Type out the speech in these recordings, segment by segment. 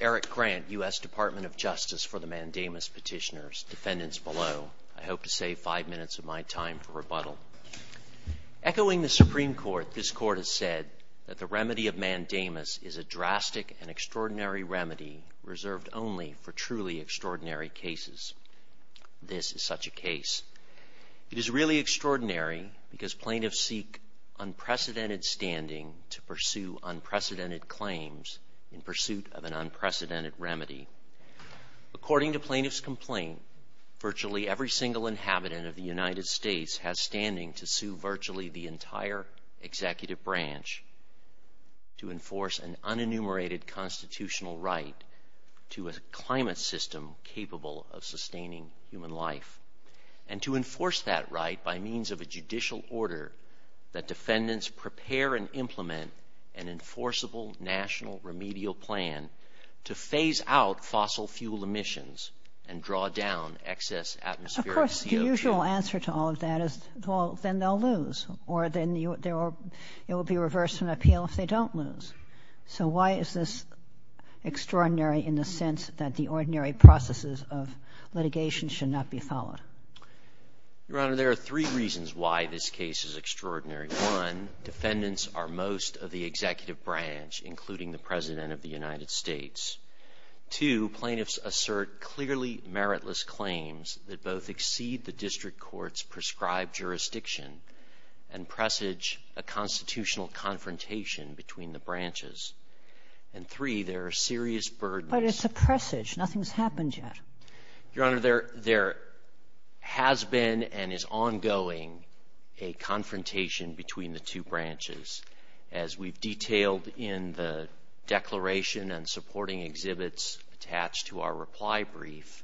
Eric Grant, U.S. Department of Justice for the Mandamus Petitioners Echoing the Supreme Court, this Court has said that the remedy of Mandamus is a drastic and extraordinary remedy reserved only for truly extraordinary cases. This is such a case. It is really extraordinary because plaintiffs seek unprecedented standing to pursue unprecedented claims in pursuit of an unprecedented remedy. According to plaintiff's complaint, virtually every single inhabitant of the United States has standing to sue virtually the entire Executive Branch to enforce an unenumerated constitutional right to a climate system capable of sustaining human life, and to enforce that right by means of a judicial order that defendants prepare and implement an enforceable national remedial plan to phase out fossil fuel emissions and draw down excess atmospheric CO2. Of course, the usual answer to all of that is, well, then they'll lose, or then it will be reversed in appeal if they don't lose. So why is this extraordinary in the sense that the ordinary processes of litigation should not be followed? Your Honor, there are three reasons why this case is extraordinary. One, defendants are most of the Executive Branch, including the President of the United States. Two, plaintiffs assert clearly meritless claims that both exceed the district court's prescribed jurisdiction and presage a constitutional confrontation between the branches. And three, there are serious burdens. But it's a presage. Nothing's happened yet. Your Honor, there has been and is ongoing a confrontation between the two branches. As we've detailed in the declaration and supporting exhibits attached to our reply brief,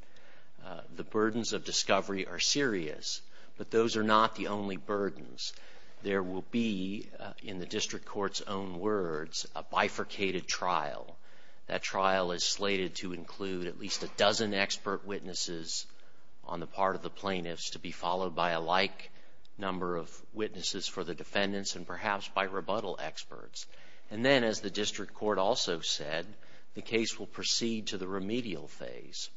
the burdens of discovery are serious. But those are not the only burdens. There will be, in the district court's own words, a bifurcated trial. That trial is slated to include at least a dozen expert witnesses on the part of the plaintiffs to be followed by a like number of witnesses for the defendants and perhaps by rebuttal experts. And then, as the district court also said, the case will proceed to the remedial phase.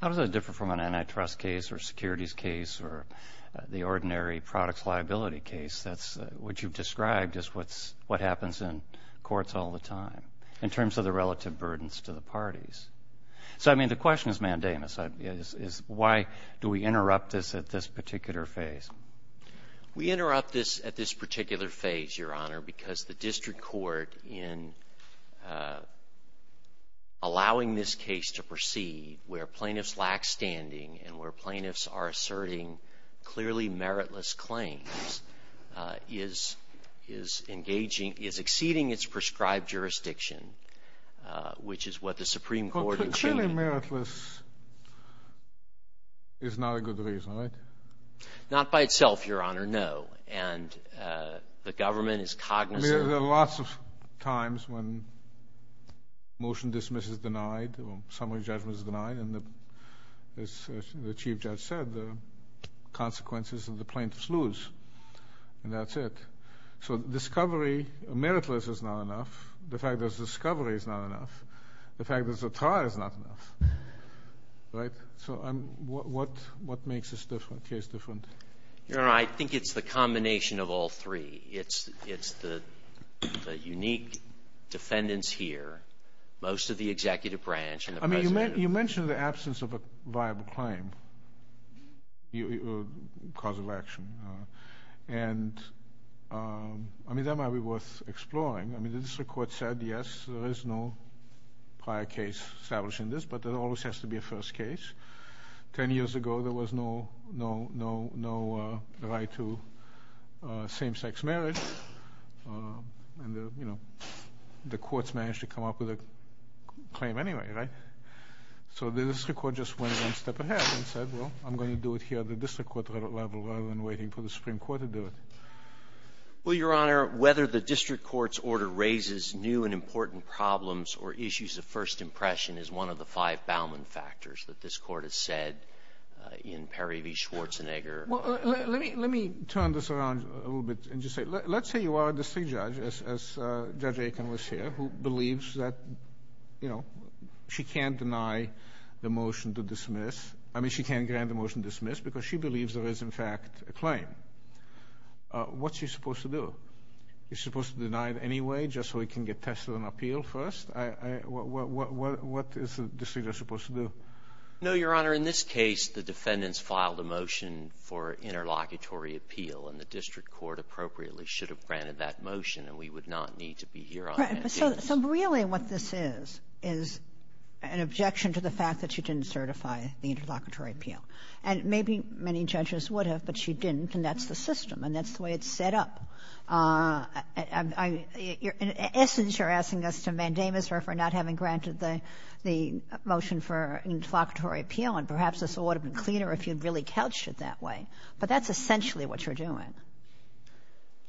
How does that differ from an antitrust case or securities case or the ordinary products liability case? That's what you've described as what happens in courts all the time in terms of the relative burdens to the parties. So, I mean, the question is mandamus. Why do we interrupt this at this particular phase? We are allowing this case to proceed where plaintiffs lack standing and where plaintiffs are asserting clearly meritless claims is exceeding its prescribed jurisdiction, which is what the Supreme Court intended. Clearly meritless is not a good reason, right? Not by itself, Your Honor, and the government is cognizant. There are lots of times when motion dismiss is denied, summary judgment is denied, and as the Chief Judge said, the consequences of the plaintiffs lose, and that's it. So discovery, meritless is not enough. The fact that it's discovery is not enough. The fact that it's a trial is not enough, right? So what makes this case different? Your Honor, it's the combination of all three. It's the unique defendants here, most of the executive branch, and the president. I mean, you mentioned the absence of a viable claim, cause of action, and I mean, that might be worth exploring. I mean, the district court said, yes, there is no prior case establishing this, but there always has to be a first case. Ten years ago, there was no right to same-sex marriage, and you know, the courts managed to come up with a claim anyway, right? So the district court just went one step ahead and said, well, I'm going to do it here at the district court level rather than waiting for the Supreme Court to do it. Well, Your Honor, whether the district court's order raises new and important problems or issues of first impression is one of the five Bauman factors that this court has said in Perry v. Schwarzenegger. Well, let me turn this around a little bit and just say, let's say you are a district judge, as Judge Aiken was here, who believes that, you know, she can't deny the motion to dismiss. I mean, she can't grant the motion to dismiss because she believes there is, in fact, a claim. What's she supposed to do? Is she supposed to deny it anyway, just so it can get tested on appeal first? What is the district judge supposed to do? No, Your Honor, in this case, the defendants filed a motion for interlocutory appeal, and the district court appropriately should have granted that motion, and we would not need to be here on that case. Right. But so really what this is, is an objection to the fact that she didn't certify the interlocutory appeal. And maybe many judges would have, but she didn't, and that's the system, and that's the way it's set up. In essence, you're asking us to mandamus her for not having granted the motion for interlocutory appeal, and perhaps this would have been cleaner if you'd really couched it that way. But that's essentially what you're doing.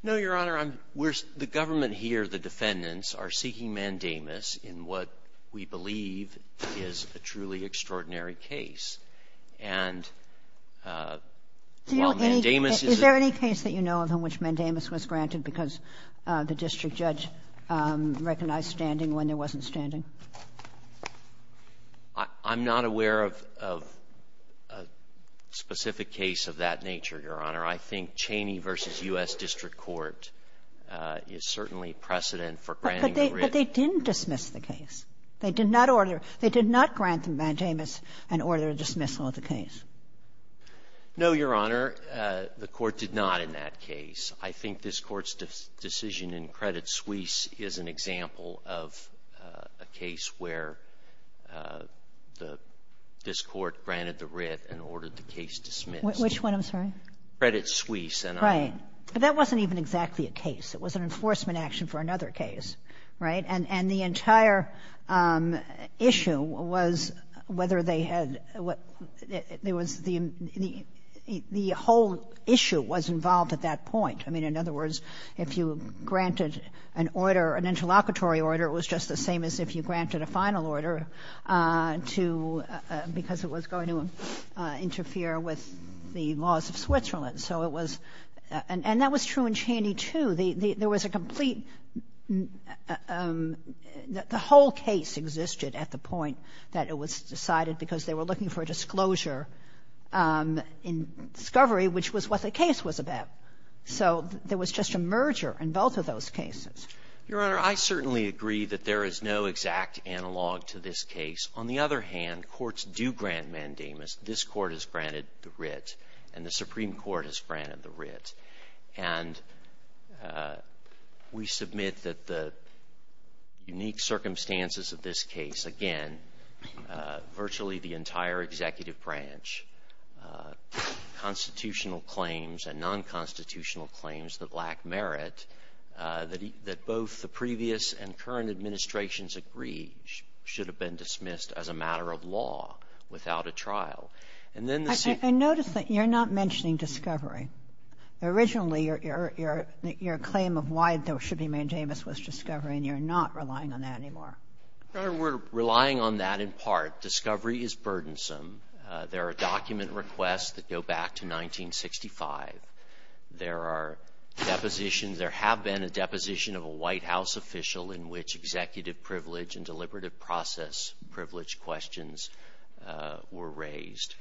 No, Your Honor. I'm — we're — the government here, the defendants, are seeking mandamus in what we believe is a truly extraordinary case. And while mandamus is a — Do you — is there any case that you know of in which mandamus was granted because the district judge recognized standing when there wasn't standing? I'm not aware of a specific case of that nature, Your Honor. I think Cheney v. U.S. District Court is certainly precedent for granting the writ. But they didn't dismiss the case. They did not order — they did not grant mandamus an order of dismissal of the case. No, Your Honor. The Court did not in that case. I think this Court's decision in Credit Suisse is an example of a case where the — this Court granted the writ and ordered the case dismissed. Which one? I'm sorry? Credit Suisse. Right. But that wasn't even exactly a case. It was an enforcement action for another case, right? And the entire issue was whether they had — there was — the whole issue was an order, an interlocutory order. It was just the same as if you granted a final order to — because it was going to interfere with the laws of Switzerland. So it was — and that was true in Cheney, too. There was a complete — the whole case existed at the point that it was decided because they were looking for a disclosure in discovery, which was what the case was about. So there was just a merger in both of those cases. Your Honor, I certainly agree that there is no exact analog to this case. On the other hand, courts do grant mandamus. This Court has granted the writ, and the Supreme Court has granted the writ. And we submit that the unique circumstances of this case, again, virtually the entire executive branch, constitutional claims and non-constitutional claims that lack merit, that both the previous and current administrations agreed should have been dismissed as a matter of law without a trial. And then the — I notice that you're not mentioning discovery. Originally, your claim of why there should be mandamus was discovery, and you're not relying on that anymore. Your Honor, we're relying on that in part. Discovery is burdensome. There are document requests that go back to 1965. There are depositions — there have been a deposition of a White House official in which executive privilege and deliberative process privilege questions were raised.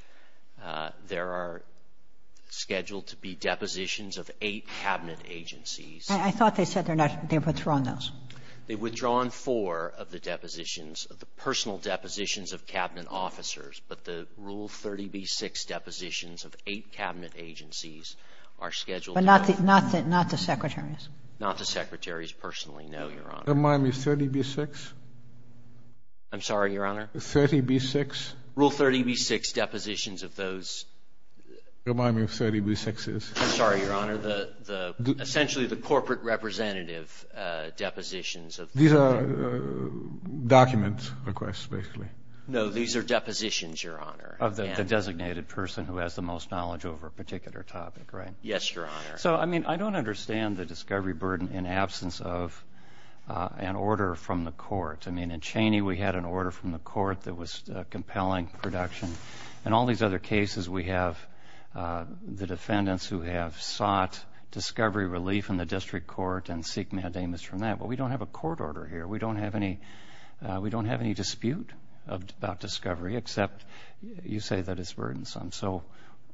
There are scheduled to be depositions of eight Cabinet agencies. I thought they said they're not — they've withdrawn those. They've withdrawn four of the depositions, of the personal depositions of Cabinet officers, but the Rule 30b-6 depositions of eight Cabinet agencies are scheduled to — But not the — not the secretaries. Not the secretaries, personally, no, Your Honor. Remind me, 30b-6? I'm sorry, Your Honor? 30b-6? Rule 30b-6 depositions of those — Remind me what 30b-6 is. I'm sorry, Your Honor, the — essentially the corporate representative depositions of — These are document requests, basically. No, these are depositions, Your Honor. Of the designated person who has the most knowledge over a particular topic, right? Yes, Your Honor. So, I mean, I don't understand the discovery burden in absence of an order from the court. I mean, in Cheney we had an order from the court that was compelling production. In all these other cases, we have the defendants who have sought discovery relief in the district court and seek mandamus from that. But we don't have a court order here. We don't have any — we don't have any dispute about discovery, except you say that it's burdensome. So,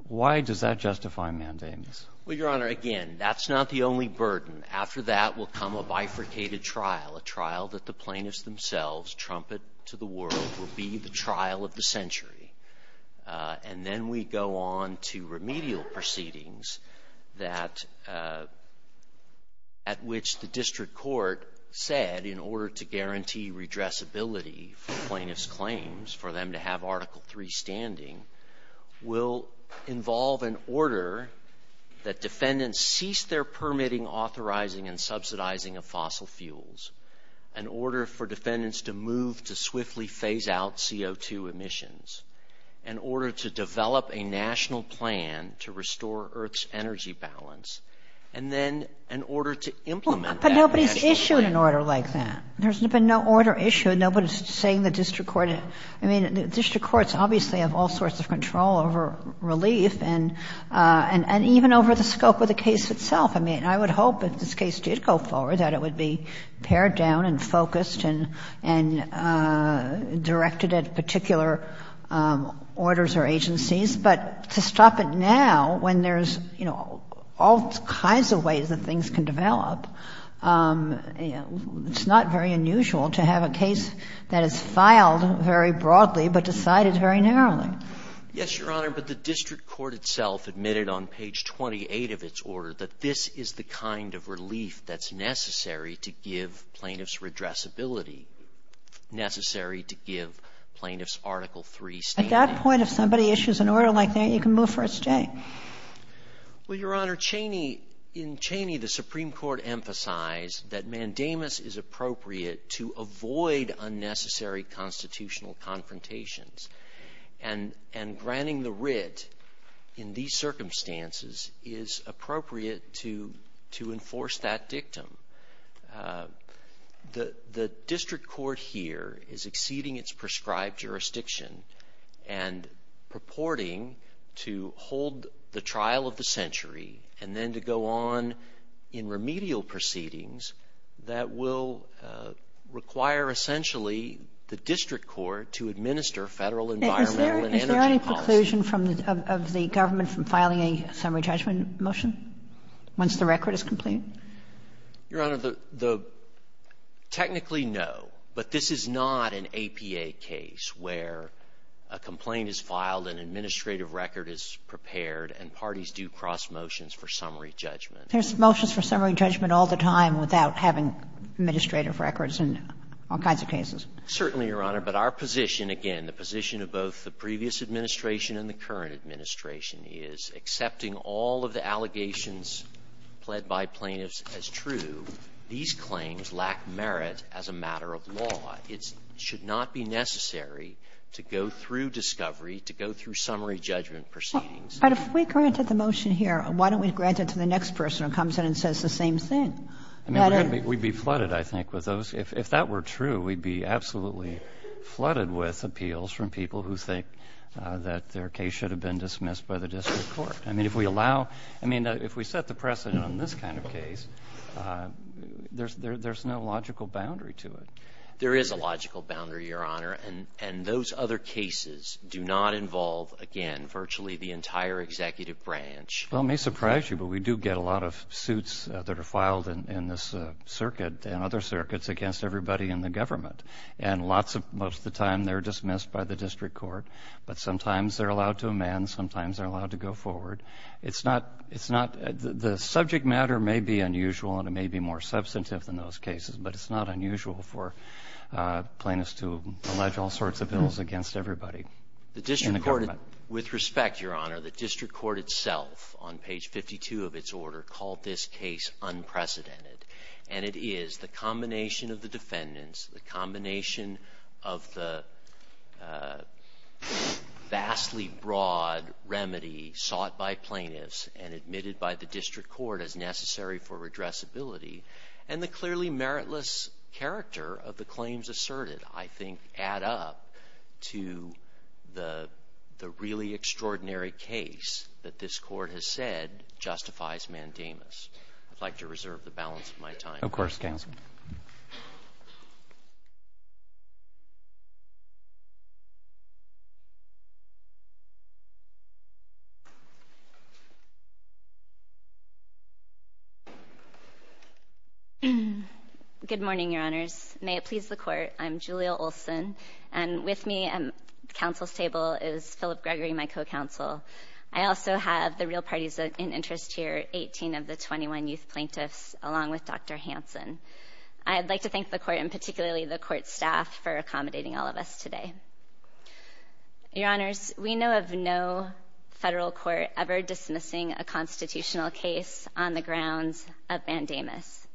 why does that justify mandamus? Well, Your Honor, again, that's not the only burden. After that will come a bifurcated trial, a trial that the plaintiffs themselves trumpet to the world will be the trial of the century. And then we go on to remedial proceedings that — at which the district court said in order to guarantee redressability for plaintiffs' claims, for them to have Article III standing, will involve an order that defendants cease their permitting, authorizing, and subsidizing of fossil fuels, an order for defendants to move to swiftly phase out CO2 emissions, an order to develop a national plan to restore Earth's energy balance, and then an order to implement that — But nobody's issued an order like that. There's been no order issued. Nobody's saying the district court — I mean, the district courts obviously have all sorts of control over relief and even over the scope of the case itself. I mean, I would hope if this case did go forward that it would be pared down and focused and — and directed at particular orders or agencies. But to stop it now when there's, you know, all kinds of ways that things can develop, it's not very unusual to have a case that is filed very broadly but decided very narrowly. Yes, Your Honor, but the district court itself admitted on page 28 of its order that this is the kind of relief that's necessary to give plaintiffs redressability, necessary to give plaintiffs Article III standing. At that point, if somebody issues an order like that, you can move for its day. Well, Your Honor, Cheney — in Cheney, the Supreme Court emphasized that mandamus is appropriate to avoid unnecessary constitutional confrontations. And granting the writ in these circumstances is appropriate to enforce that dictum. The district court here is exceeding its prescribed jurisdiction and purporting to hold the trial of the century and then to go on in remedial proceedings that will require essentially the district court to administer Federal environmental and energy policy. Is there any preclusion from — of the government from filing a summary judgment motion once the record is complete? Your Honor, the — technically, no. But this is not an APA case where a complaint is filed, an administrative record is prepared, and parties do cross motions for summary judgment. There's motions for summary judgment all the time without having administrative records in all kinds of cases. Certainly, Your Honor. But our position, again, the position of both the previous administration and the current administration is, accepting all of the allegations pled by plaintiffs as true, these claims lack merit as a matter of law. It should not be necessary to go through discovery, to go through summary judgment proceedings. But if we granted the motion here, why don't we grant it to the next person who comes in and says the same thing? I mean, we'd be flooded, I think, with those — if that were true, we'd be absolutely flooded with appeals from people who think that their case should have been dismissed by the district court. I mean, if we allow — I mean, if we set the precedent on this kind of case, there's no logical boundary to it. There is a logical boundary, Your Honor, and those other cases do not involve, again, virtually the entire executive branch. Well, it may surprise you, but we do get a lot of suits that are filed in this circuit and other circuits against everybody in the government. And lots of — most of the time, they're dismissed by the district court, but sometimes they're allowed to amend, sometimes they're allowed to go forward. It's not — it's not — the subject matter may be unusual and it may be more substantive than those cases, but it's not unusual for plaintiffs to allege all sorts of bills against everybody in the government. With respect, Your Honor, the district court itself, on page 52 of its order, called this case unprecedented. And it is. The combination of the defendants, the combination of the vastly broad remedy sought by plaintiffs and admitted by the district court as necessary for redressability, and the clearly meritless character of the claims asserted, I think, add up to the really extraordinary case that this court has said justifies mandamus. I'd like to reserve the balance of my time. Of course, counsel. Good morning, Your Honors. May it please the Court, I'm Julia Olson, and with me at the counsel's table is Philip Gregory, my co-counsel. I also have the real parties in interest here, 18 of the 21 youth plaintiffs, along with Dr. Hansen. I'd like to thank the Court, and particularly the Court staff, for accommodating all of us today. Your Honors, we know of no federal court ever dismissing a constitutional case on the grounds of mandamus.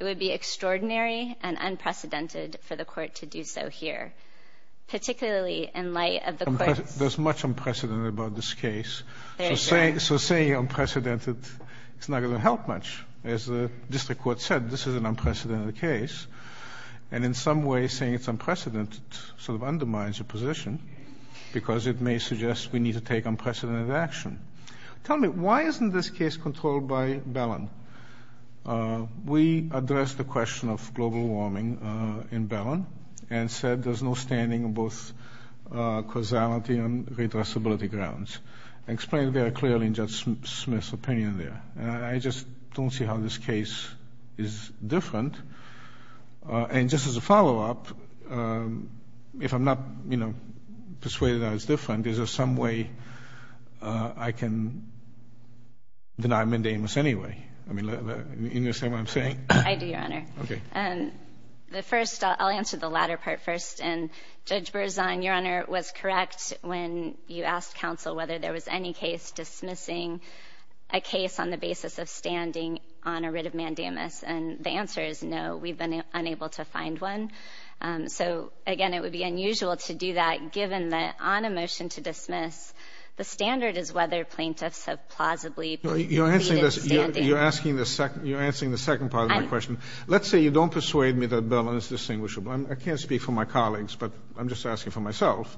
It would be extraordinary and unprecedented for the Court to do so here, particularly in light of the Court's... There's much unprecedented about this case. Very good. So saying unprecedented, it's not going to help much. As the district court said, this is an unprecedented case. And in some way, saying it's unprecedented sort of undermines your position, because it may suggest we need to take unprecedented action. Tell me, why isn't this case controlled by Bellin? We addressed the question of global warming in Bellin, and said there's no standing in both causality and redressability grounds. I explained very clearly in Judge Smith's opinion there. I just don't see how this case is different. And just as a follow-up, if I'm not persuaded that it's different, is there some way I can deny mandamus anyway? I mean, do you understand what I'm saying? I do, Your Honor. Okay. I'll answer the latter part first. Judge Berzon, Your Honor, was correct when you asked counsel whether there was any case dismissing a case on the basis of standing on a writ of mandamus. And the answer is no. We've been unable to find one. So again, it would be unusual to do that, given that on a motion to dismiss, the standard is whether plaintiffs have plausibly pleaded standing. You're asking the second part of my question. Let's say you don't persuade me that Bellin is distinguishable. I can't speak for my colleagues, but I'm just asking for myself.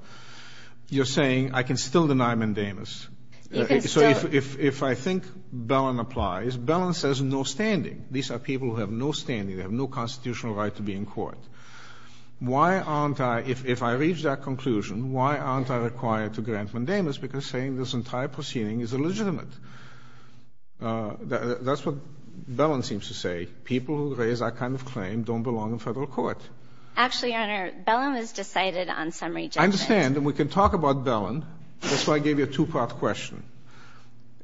You're saying I can still deny mandamus. You can still. So if I think Bellin applies, Bellin says no standing. These are people who have no standing. They have no constitutional right to be in court. Why aren't I, if I reach that conclusion, why aren't I required to grant mandamus? Because saying this entire proceeding is illegitimate. That's what Bellin seems to say. People who raise that kind of claim don't belong in federal court. Actually, Your Honor, Bellin was decided on summary judgment. I understand. And we can talk about Bellin. That's why I gave you a two-part question.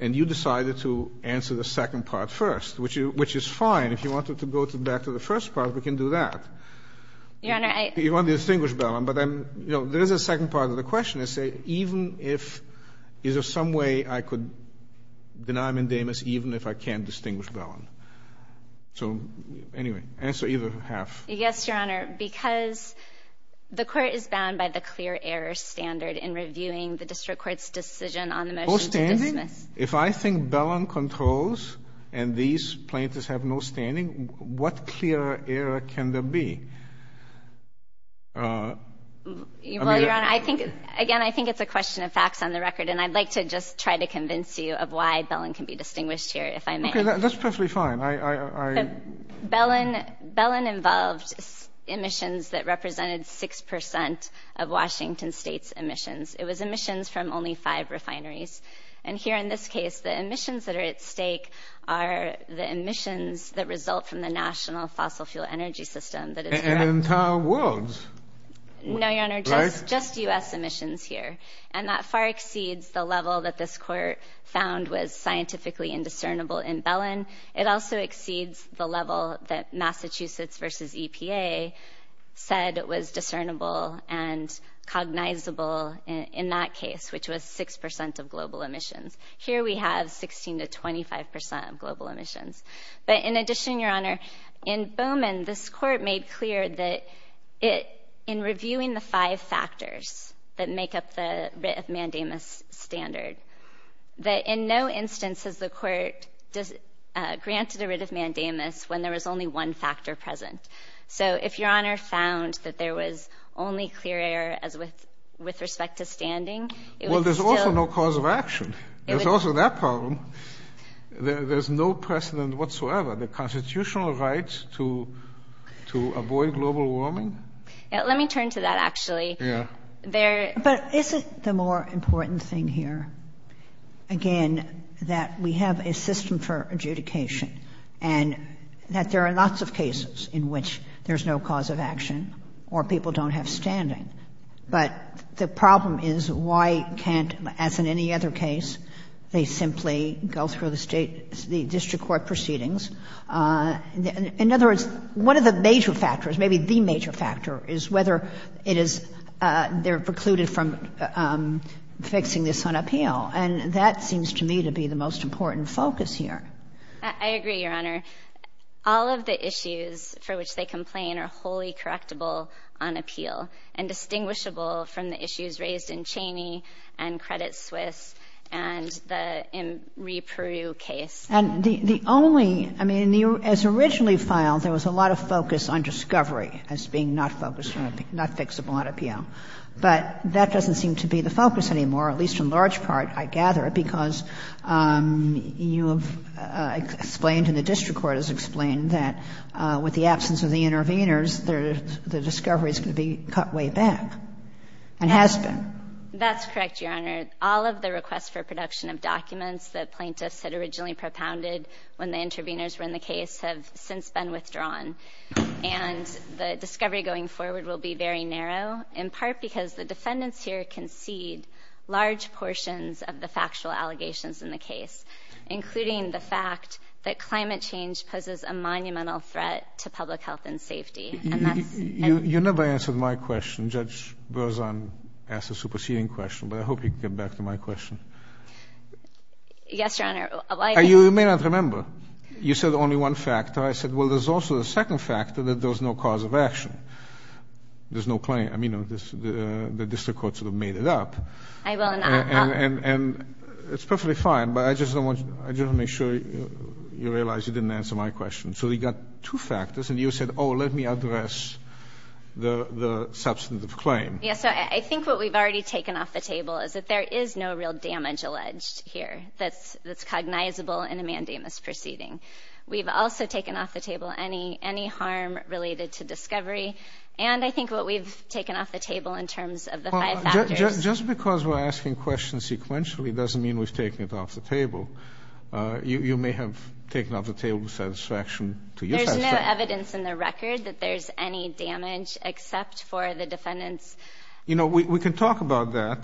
And you decided to answer the second part first, which is fine. If you wanted to go back to the first part, we can do that. Your Honor, I— You want to distinguish Bellin. But I'm, you know, there is a second part of the question. I say, even if, is there some way I could deny mandamus even if I can't distinguish Bellin? So anyway, answer either half. Yes, Your Honor, because the court is bound by the clear error standard in reviewing the district court's decision on the motion to dismiss— No standing? If I think Bellin controls and these plaintiffs have no standing, what clear error can there be? Well, Your Honor, I think, again, I think it's a question of facts on the record. And I'd like to just try to convince you of why Bellin can be distinguished here, if I may. Okay, that's perfectly fine. I— Bellin—Bellin involved emissions that represented six percent of Washington state's emissions. It was emissions from only five refineries. And here in this case, the emissions that are at stake are the emissions that result from the National Fossil Fuel Energy System that is— And in entire worlds? No, Your Honor, just U.S. emissions here. And that far exceeds the level that this court found was scientifically indiscernible in Bellin. It also exceeds the level that Massachusetts versus EPA said was discernible and cognizable in that case, which was six percent of global emissions. Here we have 16 to 25 percent of global emissions. But in addition, Your Honor, in Bowman, this court made clear that in reviewing the five factors that make up the writ of mandamus standard, that in no instance has the court granted a writ of mandamus when there was only one factor present. So if Your Honor found that there was only clear error with respect to standing, it would still— Well, there's also no cause of action. There's also that problem. There's no precedent whatsoever. The constitutional right to avoid global warming— Let me turn to that, actually. Yeah. But isn't the more important thing here, again, that we have a system for adjudication and that there are lots of cases in which there's no cause of action or people don't have standing? But the problem is, why can't, as in any other case, they simply go through the state, the district court proceedings? In other words, one of the major factors, maybe the major factor, is whether it is they're precluded from fixing this on appeal. And that seems to me to be the most important focus here. I agree, Your Honor. All of the issues for which they complain are wholly correctable on appeal and distinguishable from the issues raised in Cheney and Credit Suisse and the Imri-Peru case. And the only—I mean, as originally filed, there was a lot of focus on discovery as being not focused on—not fixable on appeal. But that doesn't seem to be the focus anymore, at least in large part, I gather, because you have explained and the district court has explained that with the absence of the intervenors, the discovery is going to be cut way back and has been. That's correct, Your Honor. All of the requests for production of documents that plaintiffs had originally propounded when the intervenors were in the case have since been withdrawn. And the discovery going forward will be very narrow, in part because the defendants here concede large portions of the factual allegations in the case, including the fact that climate change poses a monumental threat to public health and safety. You never answered my question. Judge Berzon asked a superseding question, but I hope you can get back to my question. Yes, Your Honor. You may not remember. You said only one factor. I said, well, there's also the second factor that there's no cause of action. There's no claim. I mean, the district court sort of made it up. And it's perfectly fine, but I just want to make sure you realize you didn't answer my question. So you got two factors, and you said, oh, let me address the substantive claim. Yes, I think what we've already taken off the table is that there is no real damage alleged here that's cognizable in a mandamus proceeding. We've also taken off the table any harm related to discovery, and I think what we've taken off the table in terms of the five factors. Just because we're asking questions sequentially doesn't mean we've taken it off the table. You may have taken off the table the satisfaction to use that. There's no evidence in the record that there's any damage except for the defendants. You know, we can talk about that,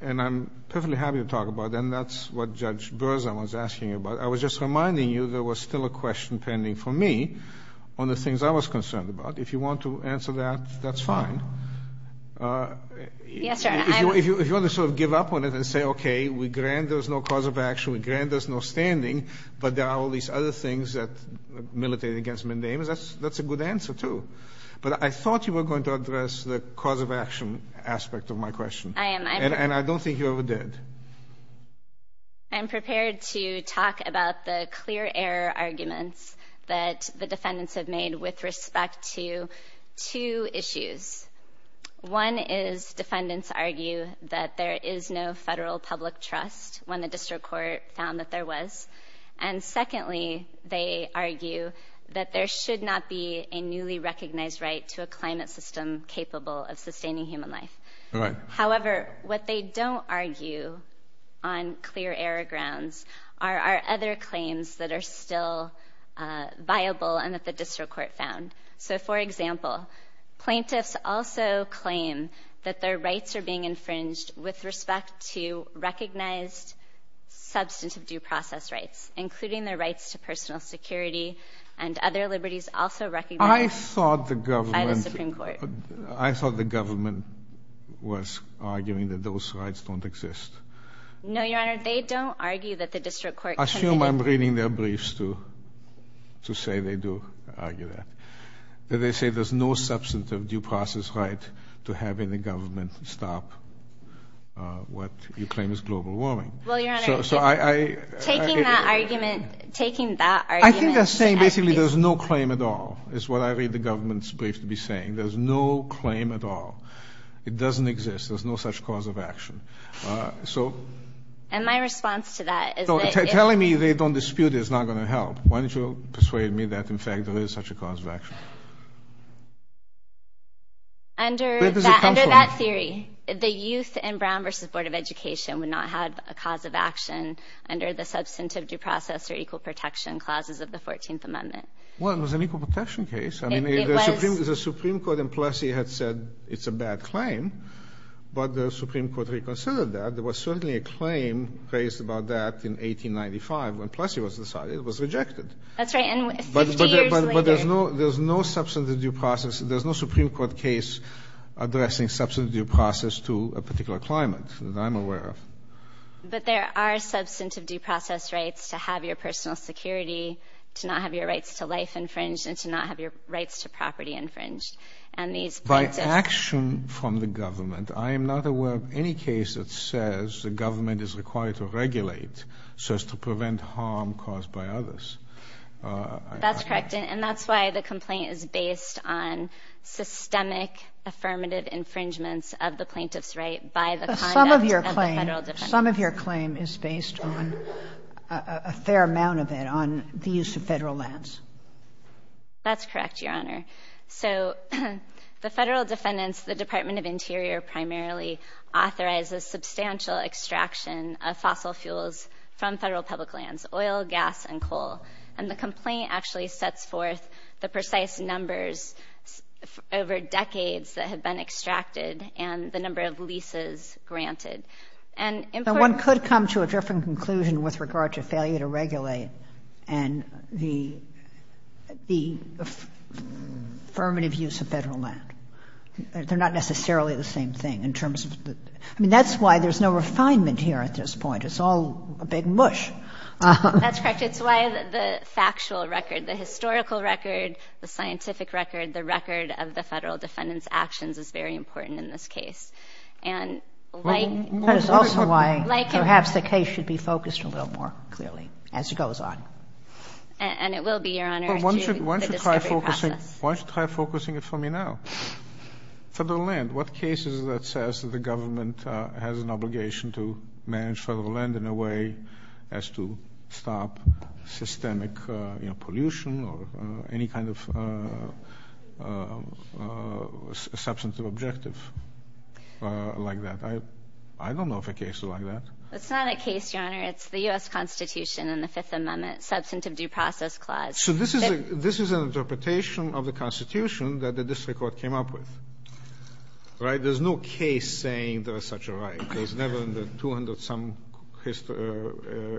and I'm perfectly happy to talk about it, and that's what Judge Berzon was asking about. I was just reminding you there was still a question pending for me on the things I was concerned about. If you want to answer that, that's fine. Yes, sir. If you want to sort of give up on it and say, okay, we grant there's no cause of action, we grant there's no standing, but there are all these other things that militate against mandamus, that's a good answer, too. But I thought you were going to address the cause of action aspect of my question. I am. And I don't think you ever did. I'm prepared to talk about the clear error arguments that the defendants have made with respect to two issues. One is defendants argue that there is no federal public trust when the district court found that there was. And secondly, they argue that there should not be a newly recognized right to a climate system capable of sustaining human life. All right. However, what they don't argue on clear error grounds are other claims that are still viable and that the district court found. So, for example, plaintiffs also claim that their rights are being infringed with respect to recognized substantive due process rights, including their rights to personal security and other liberties also recognized by the Supreme Court. I thought the government was arguing that those rights don't exist. No, Your Honor, they don't argue that the district court. I assume I'm reading their briefs to say they do argue that. They say there's no substantive due process right to having the government stop what you claim is global warming. Well, Your Honor, taking that argument, taking that argument. I think they're saying basically there's no claim at all. It's what I read the government's brief to be saying. There's no claim at all. It doesn't exist. There's no such cause of action. So and my response to that is telling me they don't dispute is not going to help. Why don't you persuade me that, in fact, there is such a cause of action? Under that theory, the youth and Brown versus Board of Education would not have a cause of action under the substantive due process or equal protection clauses of the 14th Amendment. One was an equal protection case. The Supreme Court in Plessy had said it's a bad claim, but the Supreme Court reconsidered that. There was certainly a claim raised about that in 1895 when Plessy was decided. It was rejected. That's right, and 50 years later. But there's no substantive due process. There's no Supreme Court case addressing substantive due process to a particular climate that I'm aware of. But there are substantive due process rights to have your personal security, to not have your rights to life infringed, and to not have your rights to property infringed. And these by action from the government, I am not aware of any case that says the government is required to regulate so as to prevent harm caused by others. That's correct, and that's why the complaint is based on systemic affirmative infringements of the plaintiff's right by the some of your claim. Some of your claim is based on a fair amount of it on the use of federal lands. That's correct, Your Honor. So the federal defendants, the Department of Interior primarily authorizes substantial extraction of fossil fuels from federal public lands, oil, gas, and coal. And the complaint actually sets forth the precise numbers over decades that have been and one could come to a different conclusion with regard to failure to regulate and the affirmative use of federal land. They're not necessarily the same thing in terms of the I mean, that's why there's no refinement here at this point. It's all a big mush. That's correct. It's why the factual record, the historical record, the scientific record, the record of the federal defendants actions is very important in this case. And that is also why perhaps the case should be focused a little more clearly as it goes on. And it will be, Your Honor. Why don't you try focusing it for me now? Federal land, what cases that says that the government has an obligation to manage federal land in a way as to stop systemic pollution or any kind of substantive objective? Like that. I don't know if a case like that. It's not a case, Your Honor. It's the U.S. Constitution and the Fifth Amendment substantive due process clause. So this is this is an interpretation of the Constitution that the district court came up with. Right. There's no case saying there is such a right. There's never in the 200 some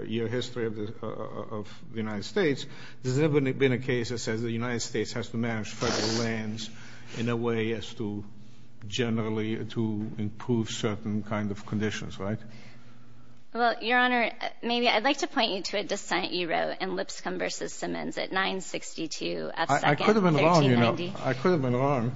year history of the United States. There's never been a case that says the United States has to manage federal lands in a way as to generally to improve certain kind of conditions. Right. Well, Your Honor, maybe I'd like to point you to a dissent. You wrote in Lipscomb vs. Simmons at nine sixty two. I could have been wrong. I could have been wrong.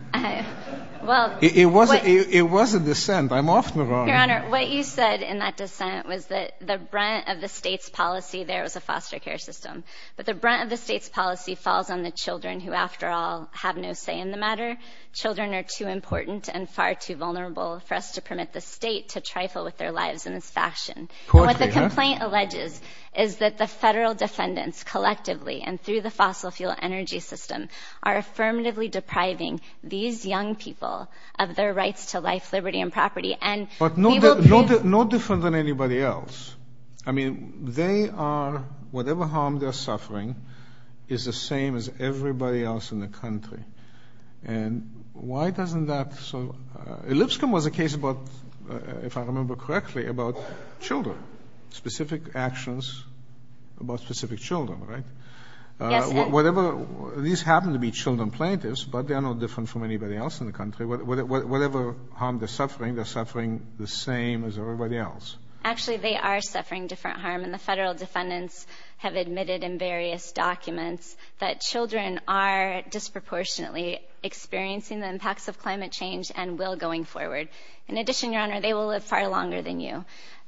Well, it was it was a dissent. I'm often wrong. Your Honor, what you said in that dissent was that the brunt of the state's policy, there was a foster care system. But the brunt of the state's policy falls on the children who, after all, have no say in the matter. Children are too important and far too vulnerable for us to permit the state to trifle with their lives in this fashion. What the complaint alleges is that the federal defendants collectively and through the fossil fuel energy system are affirmatively depriving these young people of their rights to life, liberty and property. And but no, no, no different than anybody else. I mean, they are whatever harm they're suffering is the same as everybody else in the country. And why doesn't that? So Lipscomb was a case about, if I remember correctly, about children, specific actions about specific children, right? Whatever these happen to be children plaintiffs, but they are no different from anybody else in the country, whatever harm they're suffering, they're suffering the same as everybody else. Actually, they are suffering different harm. And the federal defendants have admitted in various documents that children are disproportionately experiencing the impacts of climate change and will going forward. In addition, your honor, they will live far longer than you.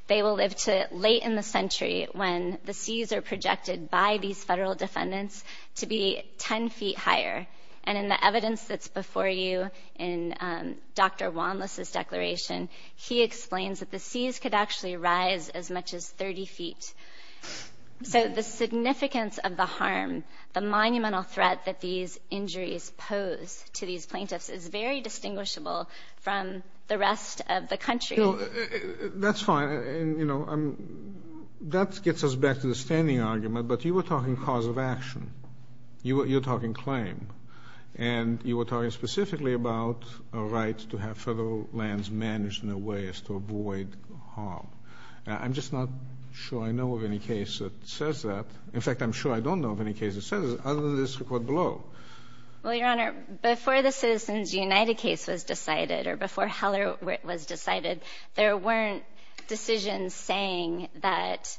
They will live to late in the century when the seas are projected by these federal defendants to be 10 feet higher. And in the evidence that's before you in Dr. Wanlis's declaration, he explains that the seas could actually rise as much as 30 feet. So the significance of the harm, the monumental threat that these injuries pose to these plaintiffs is very distinguishable from the rest of the country. That's fine. That gets us back to the standing argument. But you were talking cause of action. You're talking claim. And you were talking specifically about a right to have federal lands managed in a way as to avoid harm. I'm just not sure I know of any case that says that. In fact, I'm sure I don't know of any case that says other than this record below. Well, your honor, before the Citizens United case was decided, or before Heller was decided, there weren't decisions saying that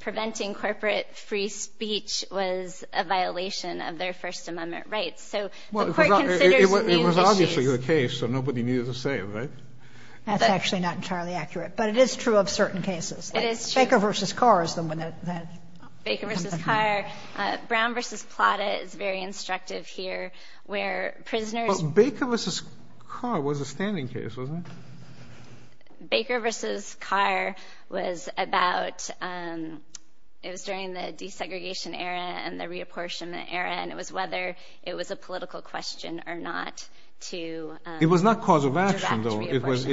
preventing corporate free speech was a violation of their First Amendment rights. So the court considers it a case. So nobody needed to say it, right? That's actually not entirely accurate. But it is true of certain cases. It is true. Baker v. Carr is the one that... Baker v. Carr. Brown v. Plata is very instructive here, where prisoners... Baker v. Carr was a standing case, wasn't it? Baker v. Carr was about... It was during the desegregation era and the reapportionment era. And it was whether it was a political question or not to... It was not cause of action, though. It was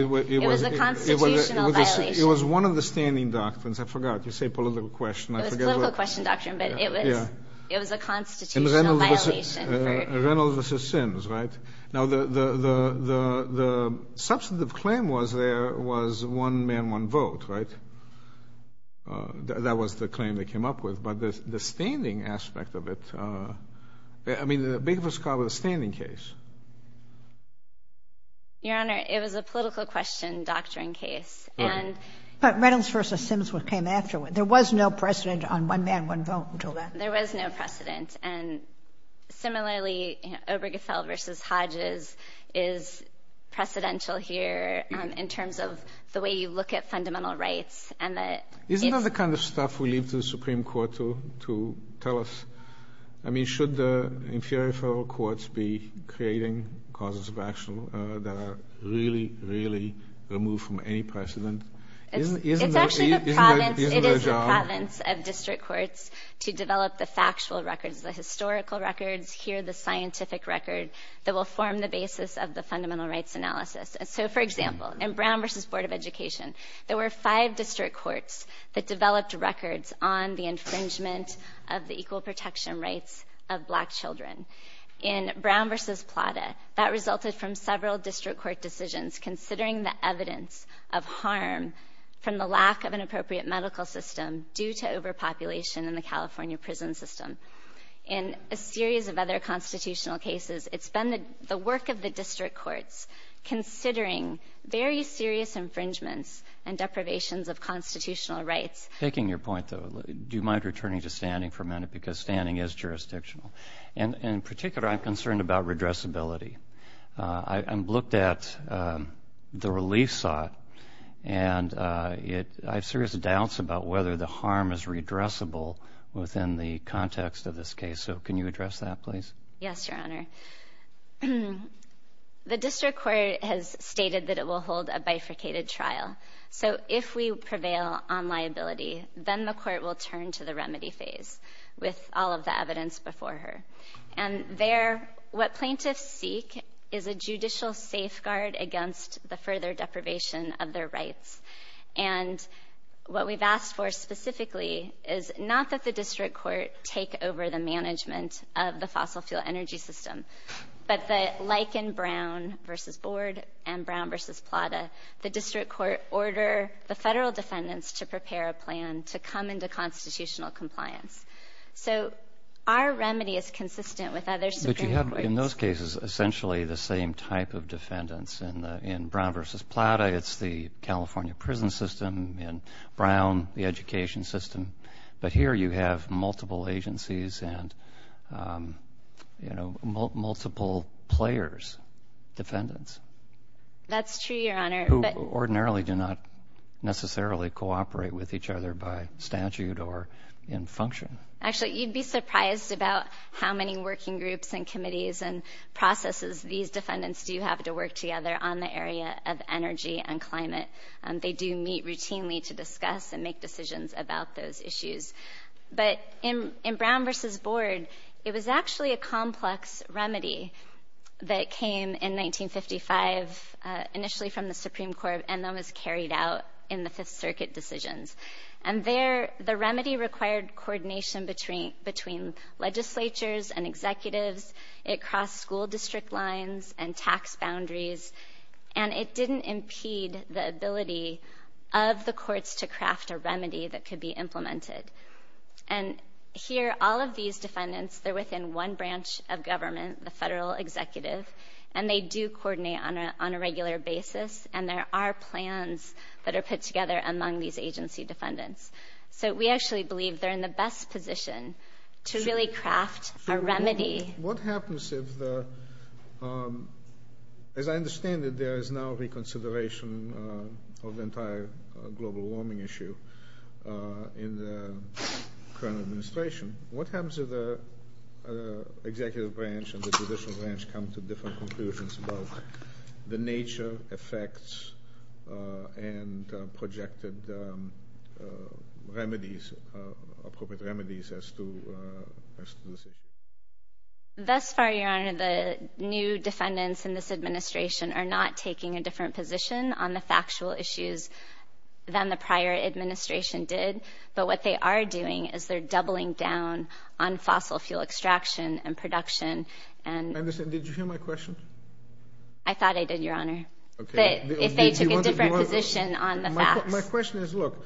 a constitutional violation. It was one of the standing doctrines. I forgot. You say political question. It was political question doctrine, but it was a constitutional violation. Reynolds v. Sims, right? Now, the substantive claim was there was one man, one vote, right? That was the claim they came up with. But the standing aspect of it... I mean, Baker v. Carr was a standing case. Your Honor, it was a political question doctrine case, and... But Reynolds v. Sims was what came afterward. There was no precedent on one man, one vote until then. There was no precedent. And similarly, Obergefell v. Hodges is precedential here in terms of the way you look at fundamental rights. Isn't that the kind of stuff we leave to the Supreme Court to tell us? I mean, should the inferior federal courts be creating causes of action that are really, really removed from any precedent? It's actually the province of district courts to develop the factual records, the historical records, here the scientific record that will form the basis of the fundamental rights analysis. So, for example, in Brown v. Board of Education, there were five district courts that developed records on the infringement of the equal protection rights of black children. In Brown v. Plata, that resulted from several district court decisions considering the evidence of harm from the lack of an appropriate medical system due to overpopulation in the California prison system. In a series of other constitutional cases, it's been the work of the district courts considering very serious infringements and deprivations of constitutional rights. Taking your point, though, do you mind returning to standing for a minute? Because standing is jurisdictional. And in particular, I'm concerned about redressability. I looked at the relief sought, and I have serious doubts about whether the harm is redressable within the context of this case. So can you address that, please? Yes, Your Honor. The district court has stated that it will hold a bifurcated trial. So if we prevail on liability, then the court will turn to the remedy phase with all of the evidence before her. And there, what plaintiffs seek is a judicial safeguard against the further deprivation of their rights. And what we've asked for specifically is not that the district court take over the management of the fossil fuel energy system, but that, like in Brown v. Board and Brown v. Plata, the district court order the federal defendants to prepare a plan to come into constitutional compliance. So our remedy is consistent with others. But you have, in those cases, essentially the same type of defendants. And in Brown v. Plata, it's the California prison system. In Brown, the education system. But here you have multiple agencies and multiple players, defendants. That's true, Your Honor. Who ordinarily do not necessarily cooperate with each other by statute or in function. Actually, you'd be surprised about how many working groups and committees and processes these defendants do have to work together on the area of energy and climate. They do meet routinely to discuss and make decisions about those issues. But in Brown v. Board, it was actually a complex remedy that came in 1955, initially from the Supreme Court, and then was carried out in the Fifth Circuit decisions. And there, the remedy required coordination between legislatures and executives. It crossed school district lines and tax boundaries. And it didn't impede the ability of the courts to craft a remedy that could be implemented. And here, all of these defendants, they're within one branch of government, the federal executive. And they do coordinate on a regular basis. And there are plans that are put together among these agency defendants. So we actually believe they're in the best position to really craft a remedy. What happens if the... As I understand it, there is now reconsideration of the entire global warming issue in the current administration. What happens if the executive branch and the judicial branch come to different conclusions about the nature, effects, and projected remedies, appropriate remedies, as to... Thus far, Your Honor, the new defendants in this administration are not taking a different position on the factual issues than the prior administration did. But what they are doing is they're doubling down on fossil fuel extraction and production and... And listen, did you hear my question? I thought I did, Your Honor. Okay. If they took a different position on the facts. My question is, look,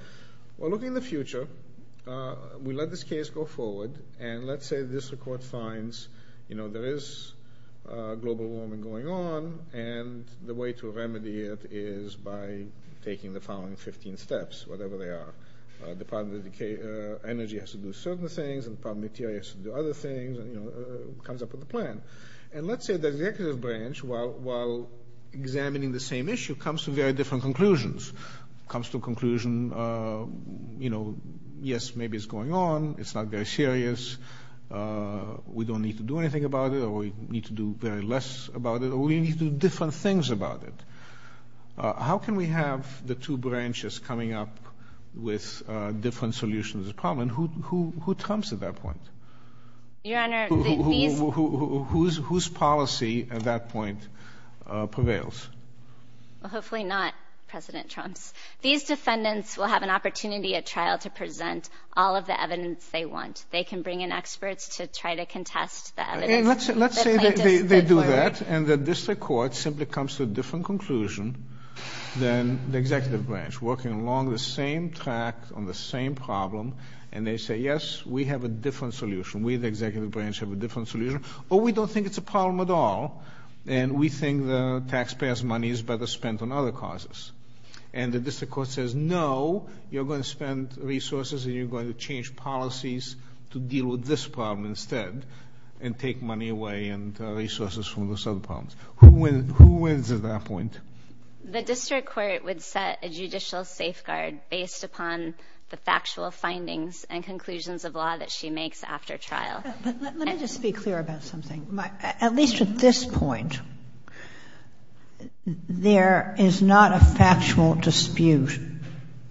we're looking at the future. We let this case go forward. And let's say this court finds, you know, there is global warming going on. And the way to remedy it is by taking the following 15 steps, whatever they are. The Department of Energy has to do certain things. And the Department of Interior has to do other things. And, you know, it comes up with a plan. And let's say the executive branch, while examining the same issue, comes to very different conclusions. It comes to a conclusion, you know, yes, maybe it's going on. It's not very serious. We don't need to do anything about it. Or we need to do very less about it. We need to do different things about it. How can we have the two branches coming up with different solutions to the problem? And who trumps at that point? Your Honor, these... Whose policy at that point prevails? Well, hopefully not President Trump's. These defendants will have an opportunity at trial to present all of the evidence they want. They can bring in experts to try to contest the evidence. Let's say they do that. And the district court simply comes to a different conclusion than the executive branch, working along the same track on the same problem. And they say, yes, we have a different solution. We, the executive branch, have a different solution. Or we don't think it's a problem at all. And we think the taxpayers' money is better spent on other causes. And the district court says, no, you're going to spend resources and you're going to change policies to deal with this problem instead and take money away and resources from those other problems. Who wins at that point? The district court would set a judicial safeguard based upon the factual findings and conclusions of law that she makes after trial. But let me just be clear about something. At least at this point, there is not a factual dispute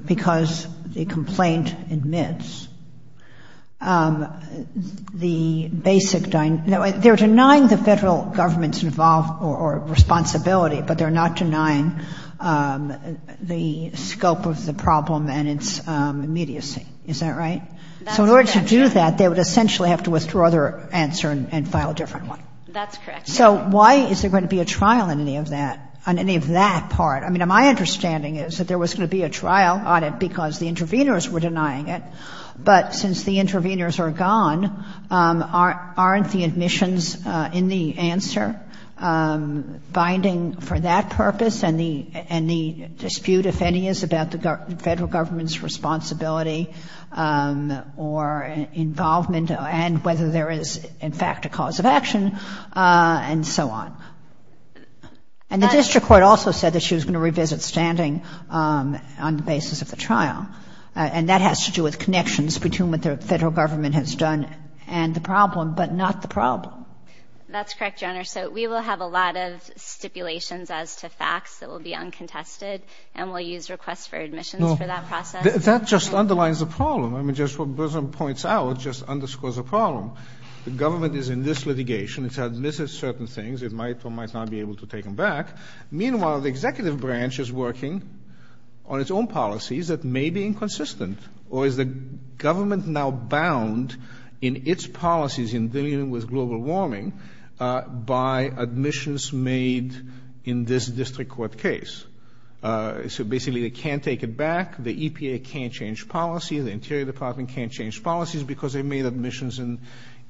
because the complaint admits that they're denying the federal government's responsibility. But they're not denying the scope of the problem and its immediacy. Is that right? So in order to do that, they would essentially have to withdraw their answer and file a different one. That's correct. So why is there going to be a trial on any of that part? I mean, my understanding is that there was going to be a trial on it because the interveners were denying it. But since the interveners are gone, aren't the admissions in the answer binding for that purpose and the dispute, if any, is about the federal government's responsibility or involvement and whether there is, in fact, a cause of action and so on. And the district court also said that she was going to revisit standing on the basis of the trial. And that has to do with connections between what the federal government has done and the problem, but not the problem. That's correct, Your Honor. So we will have a lot of stipulations as to facts that will be uncontested, and we'll use requests for admissions for that process. That just underlines the problem. I mean, just what Brison points out just underscores the problem. The government is in this litigation. It's admitted certain things. It might or might not be able to take them back. Meanwhile, the executive branch is working on its own policies that may be inconsistent, or is the government now bound in its policies in dealing with global warming by admissions made in this district court case? So basically, they can't take it back. The EPA can't change policy. The Interior Department can't change policies because they made admissions in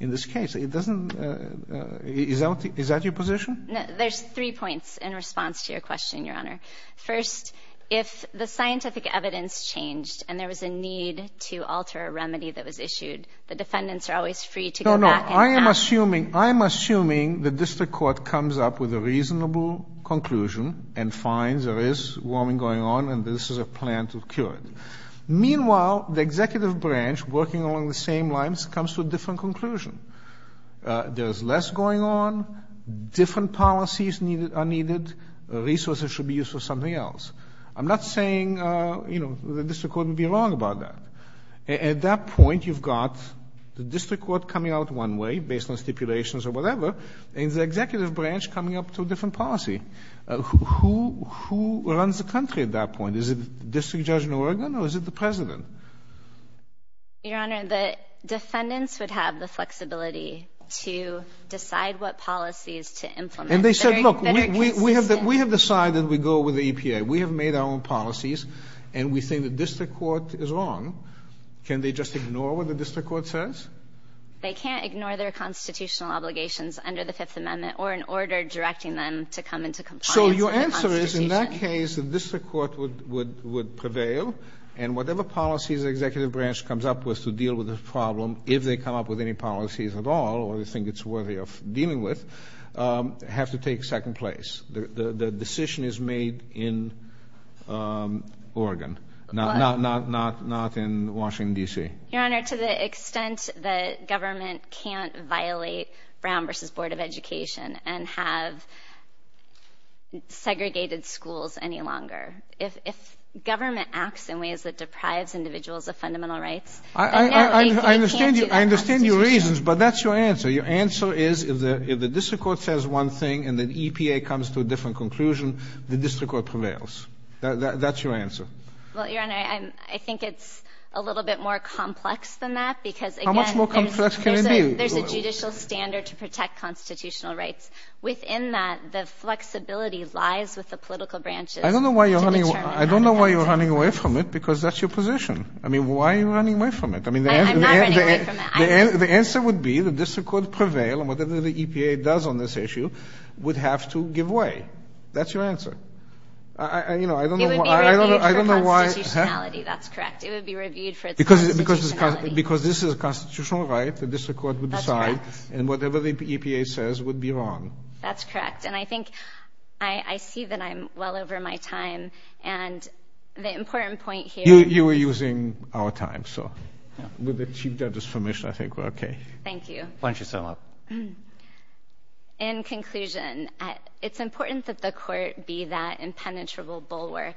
this case. It doesn't — is that your position? There's three points in response to your question, Your Honor. First, if the scientific evidence changed and there was a need to alter a remedy that was issued, the defendants are always free to go back and — No, no. I am assuming — I am assuming the district court comes up with a reasonable conclusion and finds there is warming going on, and this is a plan to cure it. Meanwhile, the executive branch, working along the same lines, comes to a different conclusion. There is less going on, different policies are needed, resources should be used for something else. I'm not saying, you know, the district court would be wrong about that. At that point, you've got the district court coming out one way, based on stipulations or whatever, and the executive branch coming up to a different policy. Who runs the country at that point? Is it the district judge in Oregon, or is it the president? Your Honor, the defendants would have the flexibility to decide what policies to implement. And they said, look, we have decided we go with the EPA. We have made our own policies, and we think the district court is wrong. Can they just ignore what the district court says? They can't ignore their constitutional obligations under the Fifth Amendment, or an order directing them to come into compliance with the constitution. So your answer is, in that case, the district court would prevail, and whatever policy the executive branch comes up with to deal with this problem, if they come up with any policies at all, or they think it's worthy of dealing with, have to take second place. The decision is made in Oregon, not in Washington, D.C. Your Honor, to the extent that government can't violate Brown v. Board of Education and have segregated schools any longer, if government acts in ways that deprives individuals of fundamental rights, they can't do that constitutionally. I understand your reasons, but that's your answer. Your answer is, if the district court says one thing, and the EPA comes to a different conclusion, the district court prevails. That's your answer. Well, Your Honor, I think it's a little bit more complex than that. How much more complex can it be? There's a judicial standard to protect constitutional rights. Within that, the flexibility lies with the political branches. I don't know why you're running away from it, because that's your position. Why are you running away from it? I'm not running away from it. The answer would be, the district court prevails, and whatever the EPA does on this issue would have to give way. That's your answer. It would be reviewed for constitutionality. That's correct. It would be reviewed for its constitutionality. Because this is a constitutional right, the district court would decide, and whatever the EPA says would be wrong. That's correct. And I think, I see that I'm well over my time, and the important point here— You were using our time, so with the Chief Justice's permission, I think we're okay. Thank you. Why don't you sum up? In conclusion, it's important that the court be that impenetrable bulwark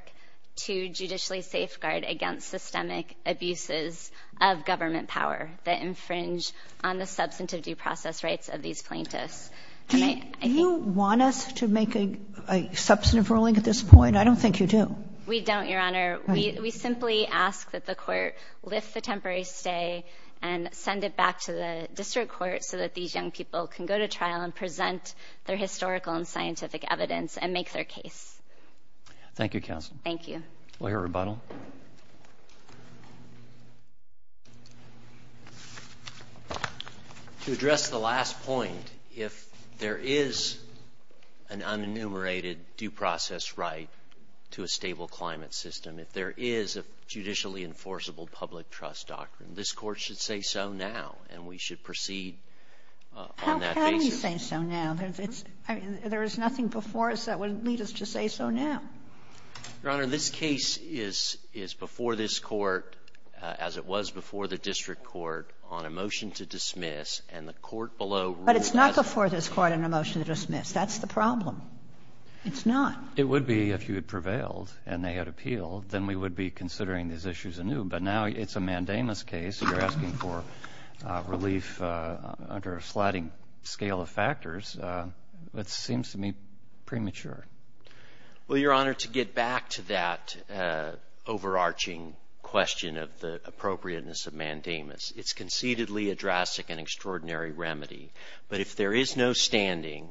to judicially safeguard against systemic abuses of government power that infringe on the substantive due process rights of these plaintiffs. Do you want us to make a substantive ruling at this point? I don't think you do. We don't, Your Honor. We simply ask that the court lift the temporary stay and send it back to the district court so that these young people can go to trial and present their historical and scientific evidence and make their case. Thank you, Counsel. Thank you. Lawyer Rebuttal. To address the last point, if there is an unenumerated due process right to a stable climate system, if there is a judicially enforceable public trust doctrine, this court should say so now, and we should proceed on that basis. How can we say so now? There is nothing before us that would lead us to say so now. Your Honor, this case is before this court, as it was before the district court, on a motion to dismiss, and the court below— But it's not before this court on a motion to dismiss. That's the problem. It's not. It would be if you had prevailed and they had appealed. Then we would be considering these issues anew, but now it's a mandamus case. You're asking for relief under a slatting scale of factors. It seems to me premature. Well, Your Honor, to get back to that overarching question of the appropriateness of mandamus, it's concededly a drastic and extraordinary remedy. But if there is no standing,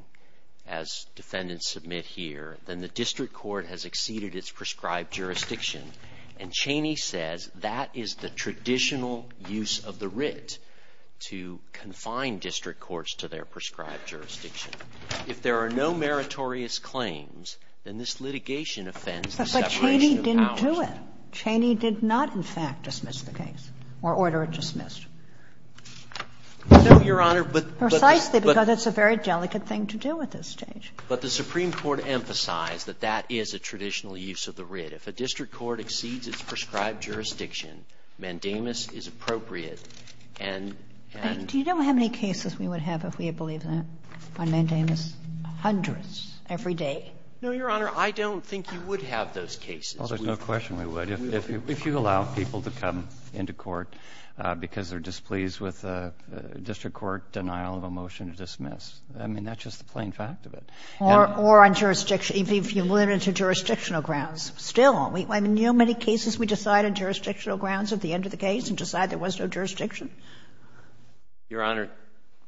as Defendants submit here, then the district court has exceeded its prescribed jurisdiction, and Cheney says that is the traditional use of the writ to confine district courts to their prescribed jurisdiction. If there are no meritorious claims, then this litigation offends the separation of powers. But Cheney didn't do it. Cheney did not, in fact, dismiss the case or order it dismissed. No, Your Honor, but the – Precisely, because it's a very delicate thing to do at this stage. But the Supreme Court emphasized that that is a traditional use of the writ. If a district court exceeds its prescribed jurisdiction, mandamus is appropriate and – and… Do you know how many cases we would have if we had believed that on mandamus? Hundreds, every day. No, Your Honor. I don't think you would have those cases. Well, there's no question we would. If you – if you allow people to come into court because they're displeased with a district court denial of a motion to dismiss, I mean, that's just the plain fact of it. Or on jurisdiction – if you limit it to jurisdictional grounds. Still, I mean, do you know how many cases we decide on jurisdictional grounds at the end of the case and decide there was no jurisdiction? Your Honor,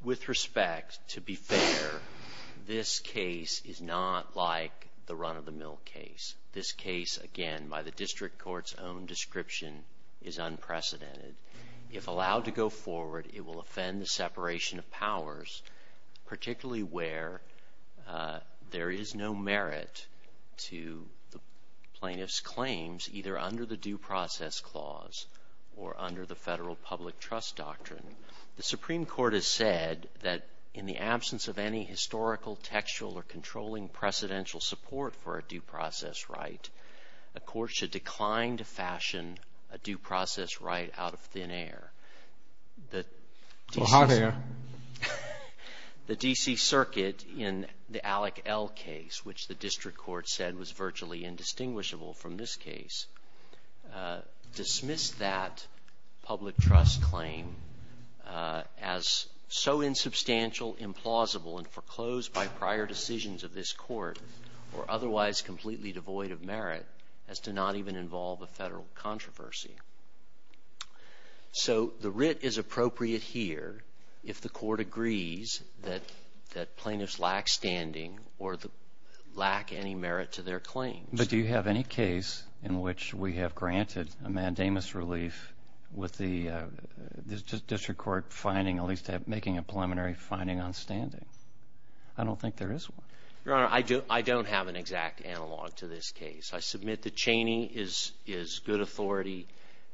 with respect, to be fair, this case is not like the run-of-the-mill case. This case, again, by the district court's own description, is unprecedented. If allowed to go forward, it will offend the separation of powers, particularly where there is no merit to the plaintiff's claims either under the due process clause or under the federal public trust doctrine. The Supreme Court has said that in the absence of any historical, textual, or controlling precedential support for a due process right, a court should decline to fashion a due process right out of thin air. The – Well, how thin air? The D.C. Circuit in the Alec L. case, which the district court said was virtually indistinguishable from this case, dismissed that public trust claim as so insubstantial, implausible, and foreclosed by prior decisions of this court or otherwise completely devoid of merit as to not even involve a federal controversy. So the writ is appropriate here if the court agrees that plaintiffs lack standing or lack any merit to their claims. But do you have any case in which we have granted a mandamus relief with the district court finding, at least making a preliminary finding on standing? I don't think there is one. Your Honor, I don't have an exact analog to this case. I submit that Chaney is good authority.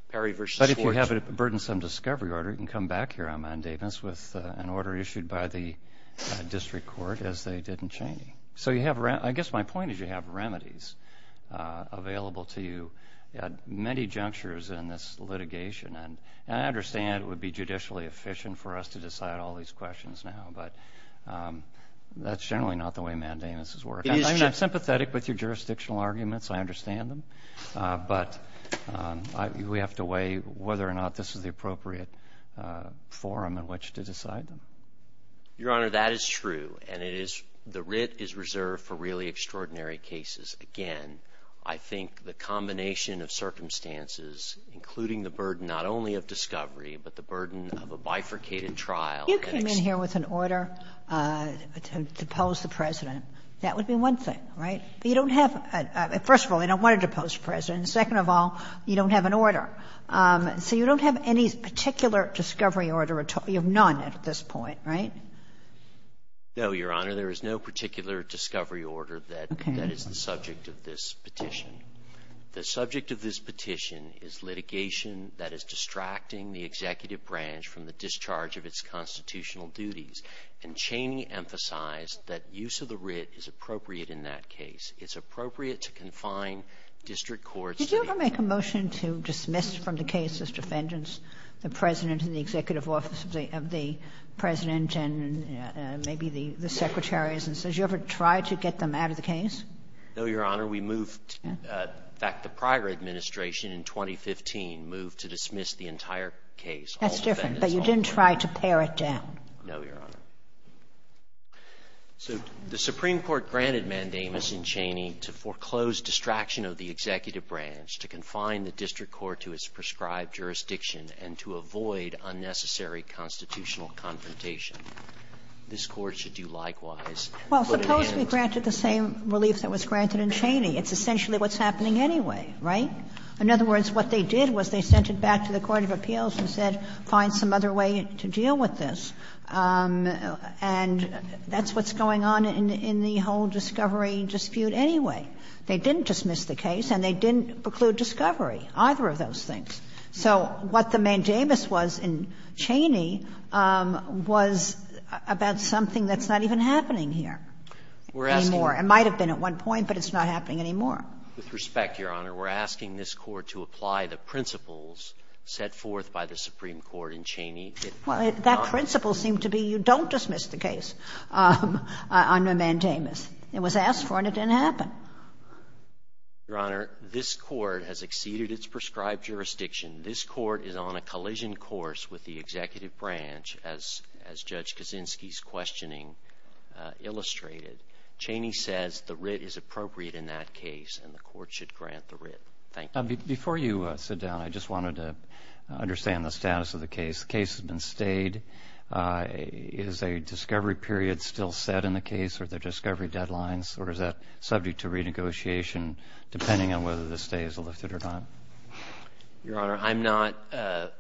Perry v. Schwartz – But if you have a burdensome discovery order, you can come back here on mandamus with an order issued by the district court as they did in Chaney. So you have – I guess my point is you have remedies available to you at many junctures in this litigation. And I understand it would be judicially efficient for us to decide all these questions now, but that's generally not the way mandamus is working. I'm sympathetic with your jurisdictional arguments. I understand them. But we have to weigh whether or not this is the appropriate forum in which to decide them. Your Honor, that is true. And it is – the writ is reserved for really extraordinary cases. Again, I think the combination of circumstances, including the burden not only of discovery, but the burden of a bifurcated trial that – You came in here with an order to depose the President. That would be one thing, right? You don't have – first of all, they don't want to depose the President. Second of all, you don't have an order. So you don't have any particular discovery order at all. You have none at this point, right? No, Your Honor. There is no particular discovery order that is the subject of this petition. The subject of this petition is litigation that is distracting the executive branch from the discharge of its constitutional duties. And Cheney emphasized that use of the writ is appropriate in that case. It's appropriate to confine district courts to the – Did you ever make a motion to dismiss from the case this defendant, the President and the Executive Office of the President and maybe the Secretaries, and says you ever tried to get them out of the case? No, Your Honor. We moved – in fact, the prior administration in 2015 moved to dismiss the entire case. That's different, but you didn't try to pare it down. No, Your Honor. So the Supreme Court granted mandamus in Cheney to foreclose distraction of the executive branch to confine the district court to its prescribed jurisdiction and to avoid unnecessary constitutional confrontation. This Court should do likewise and put an end to it. Well, suppose we granted the same relief that was granted in Cheney. It's essentially what's happening anyway, right? In other words, what they did was they sent it back to the court of appeals and said, find some other way to deal with this. And that's what's going on in the whole discovery dispute anyway. They didn't dismiss the case and they didn't preclude discovery, either of those things. So what the mandamus was in Cheney was about something that's not even happening here anymore. It might have been at one point, but it's not happening anymore. With respect, Your Honor, we're asking this Court to apply the principles set forth by the Supreme Court in Cheney. Well, that principle seemed to be you don't dismiss the case under mandamus. It was asked for and it didn't happen. Your Honor, this Court has exceeded its prescribed jurisdiction. This Court is on a collision course with the executive branch, as Judge Kaczynski's questioning illustrated. Cheney says the writ is appropriate in that case and the Court should grant the writ. Thank you. Before you sit down, I just wanted to understand the status of the case. The case has been stayed. Is a discovery period still set in the case or are there discovery deadlines? Or is that subject to renegotiation, depending on whether the stay is lifted or not? Your Honor, I'm not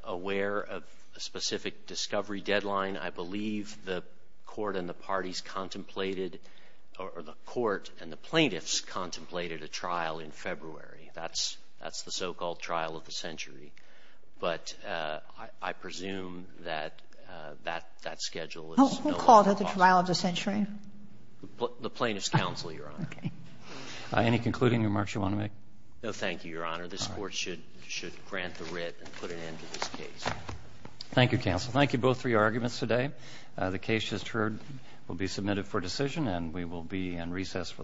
aware of a specific discovery deadline. I believe the Court and the parties contemplated, or the Court and the plaintiffs contemplated a trial in February. That's the so-called trial of the century. But I presume that that schedule is no longer possible. Who called it the trial of the century? The plaintiff's counsel, Your Honor. Any concluding remarks you want to make? No, thank you, Your Honor. This Court should grant the writ and put an end to this case. Thank you, counsel. Thank you both for your arguments today. The case, as heard, will be submitted for decision and we will be in recess for the morning.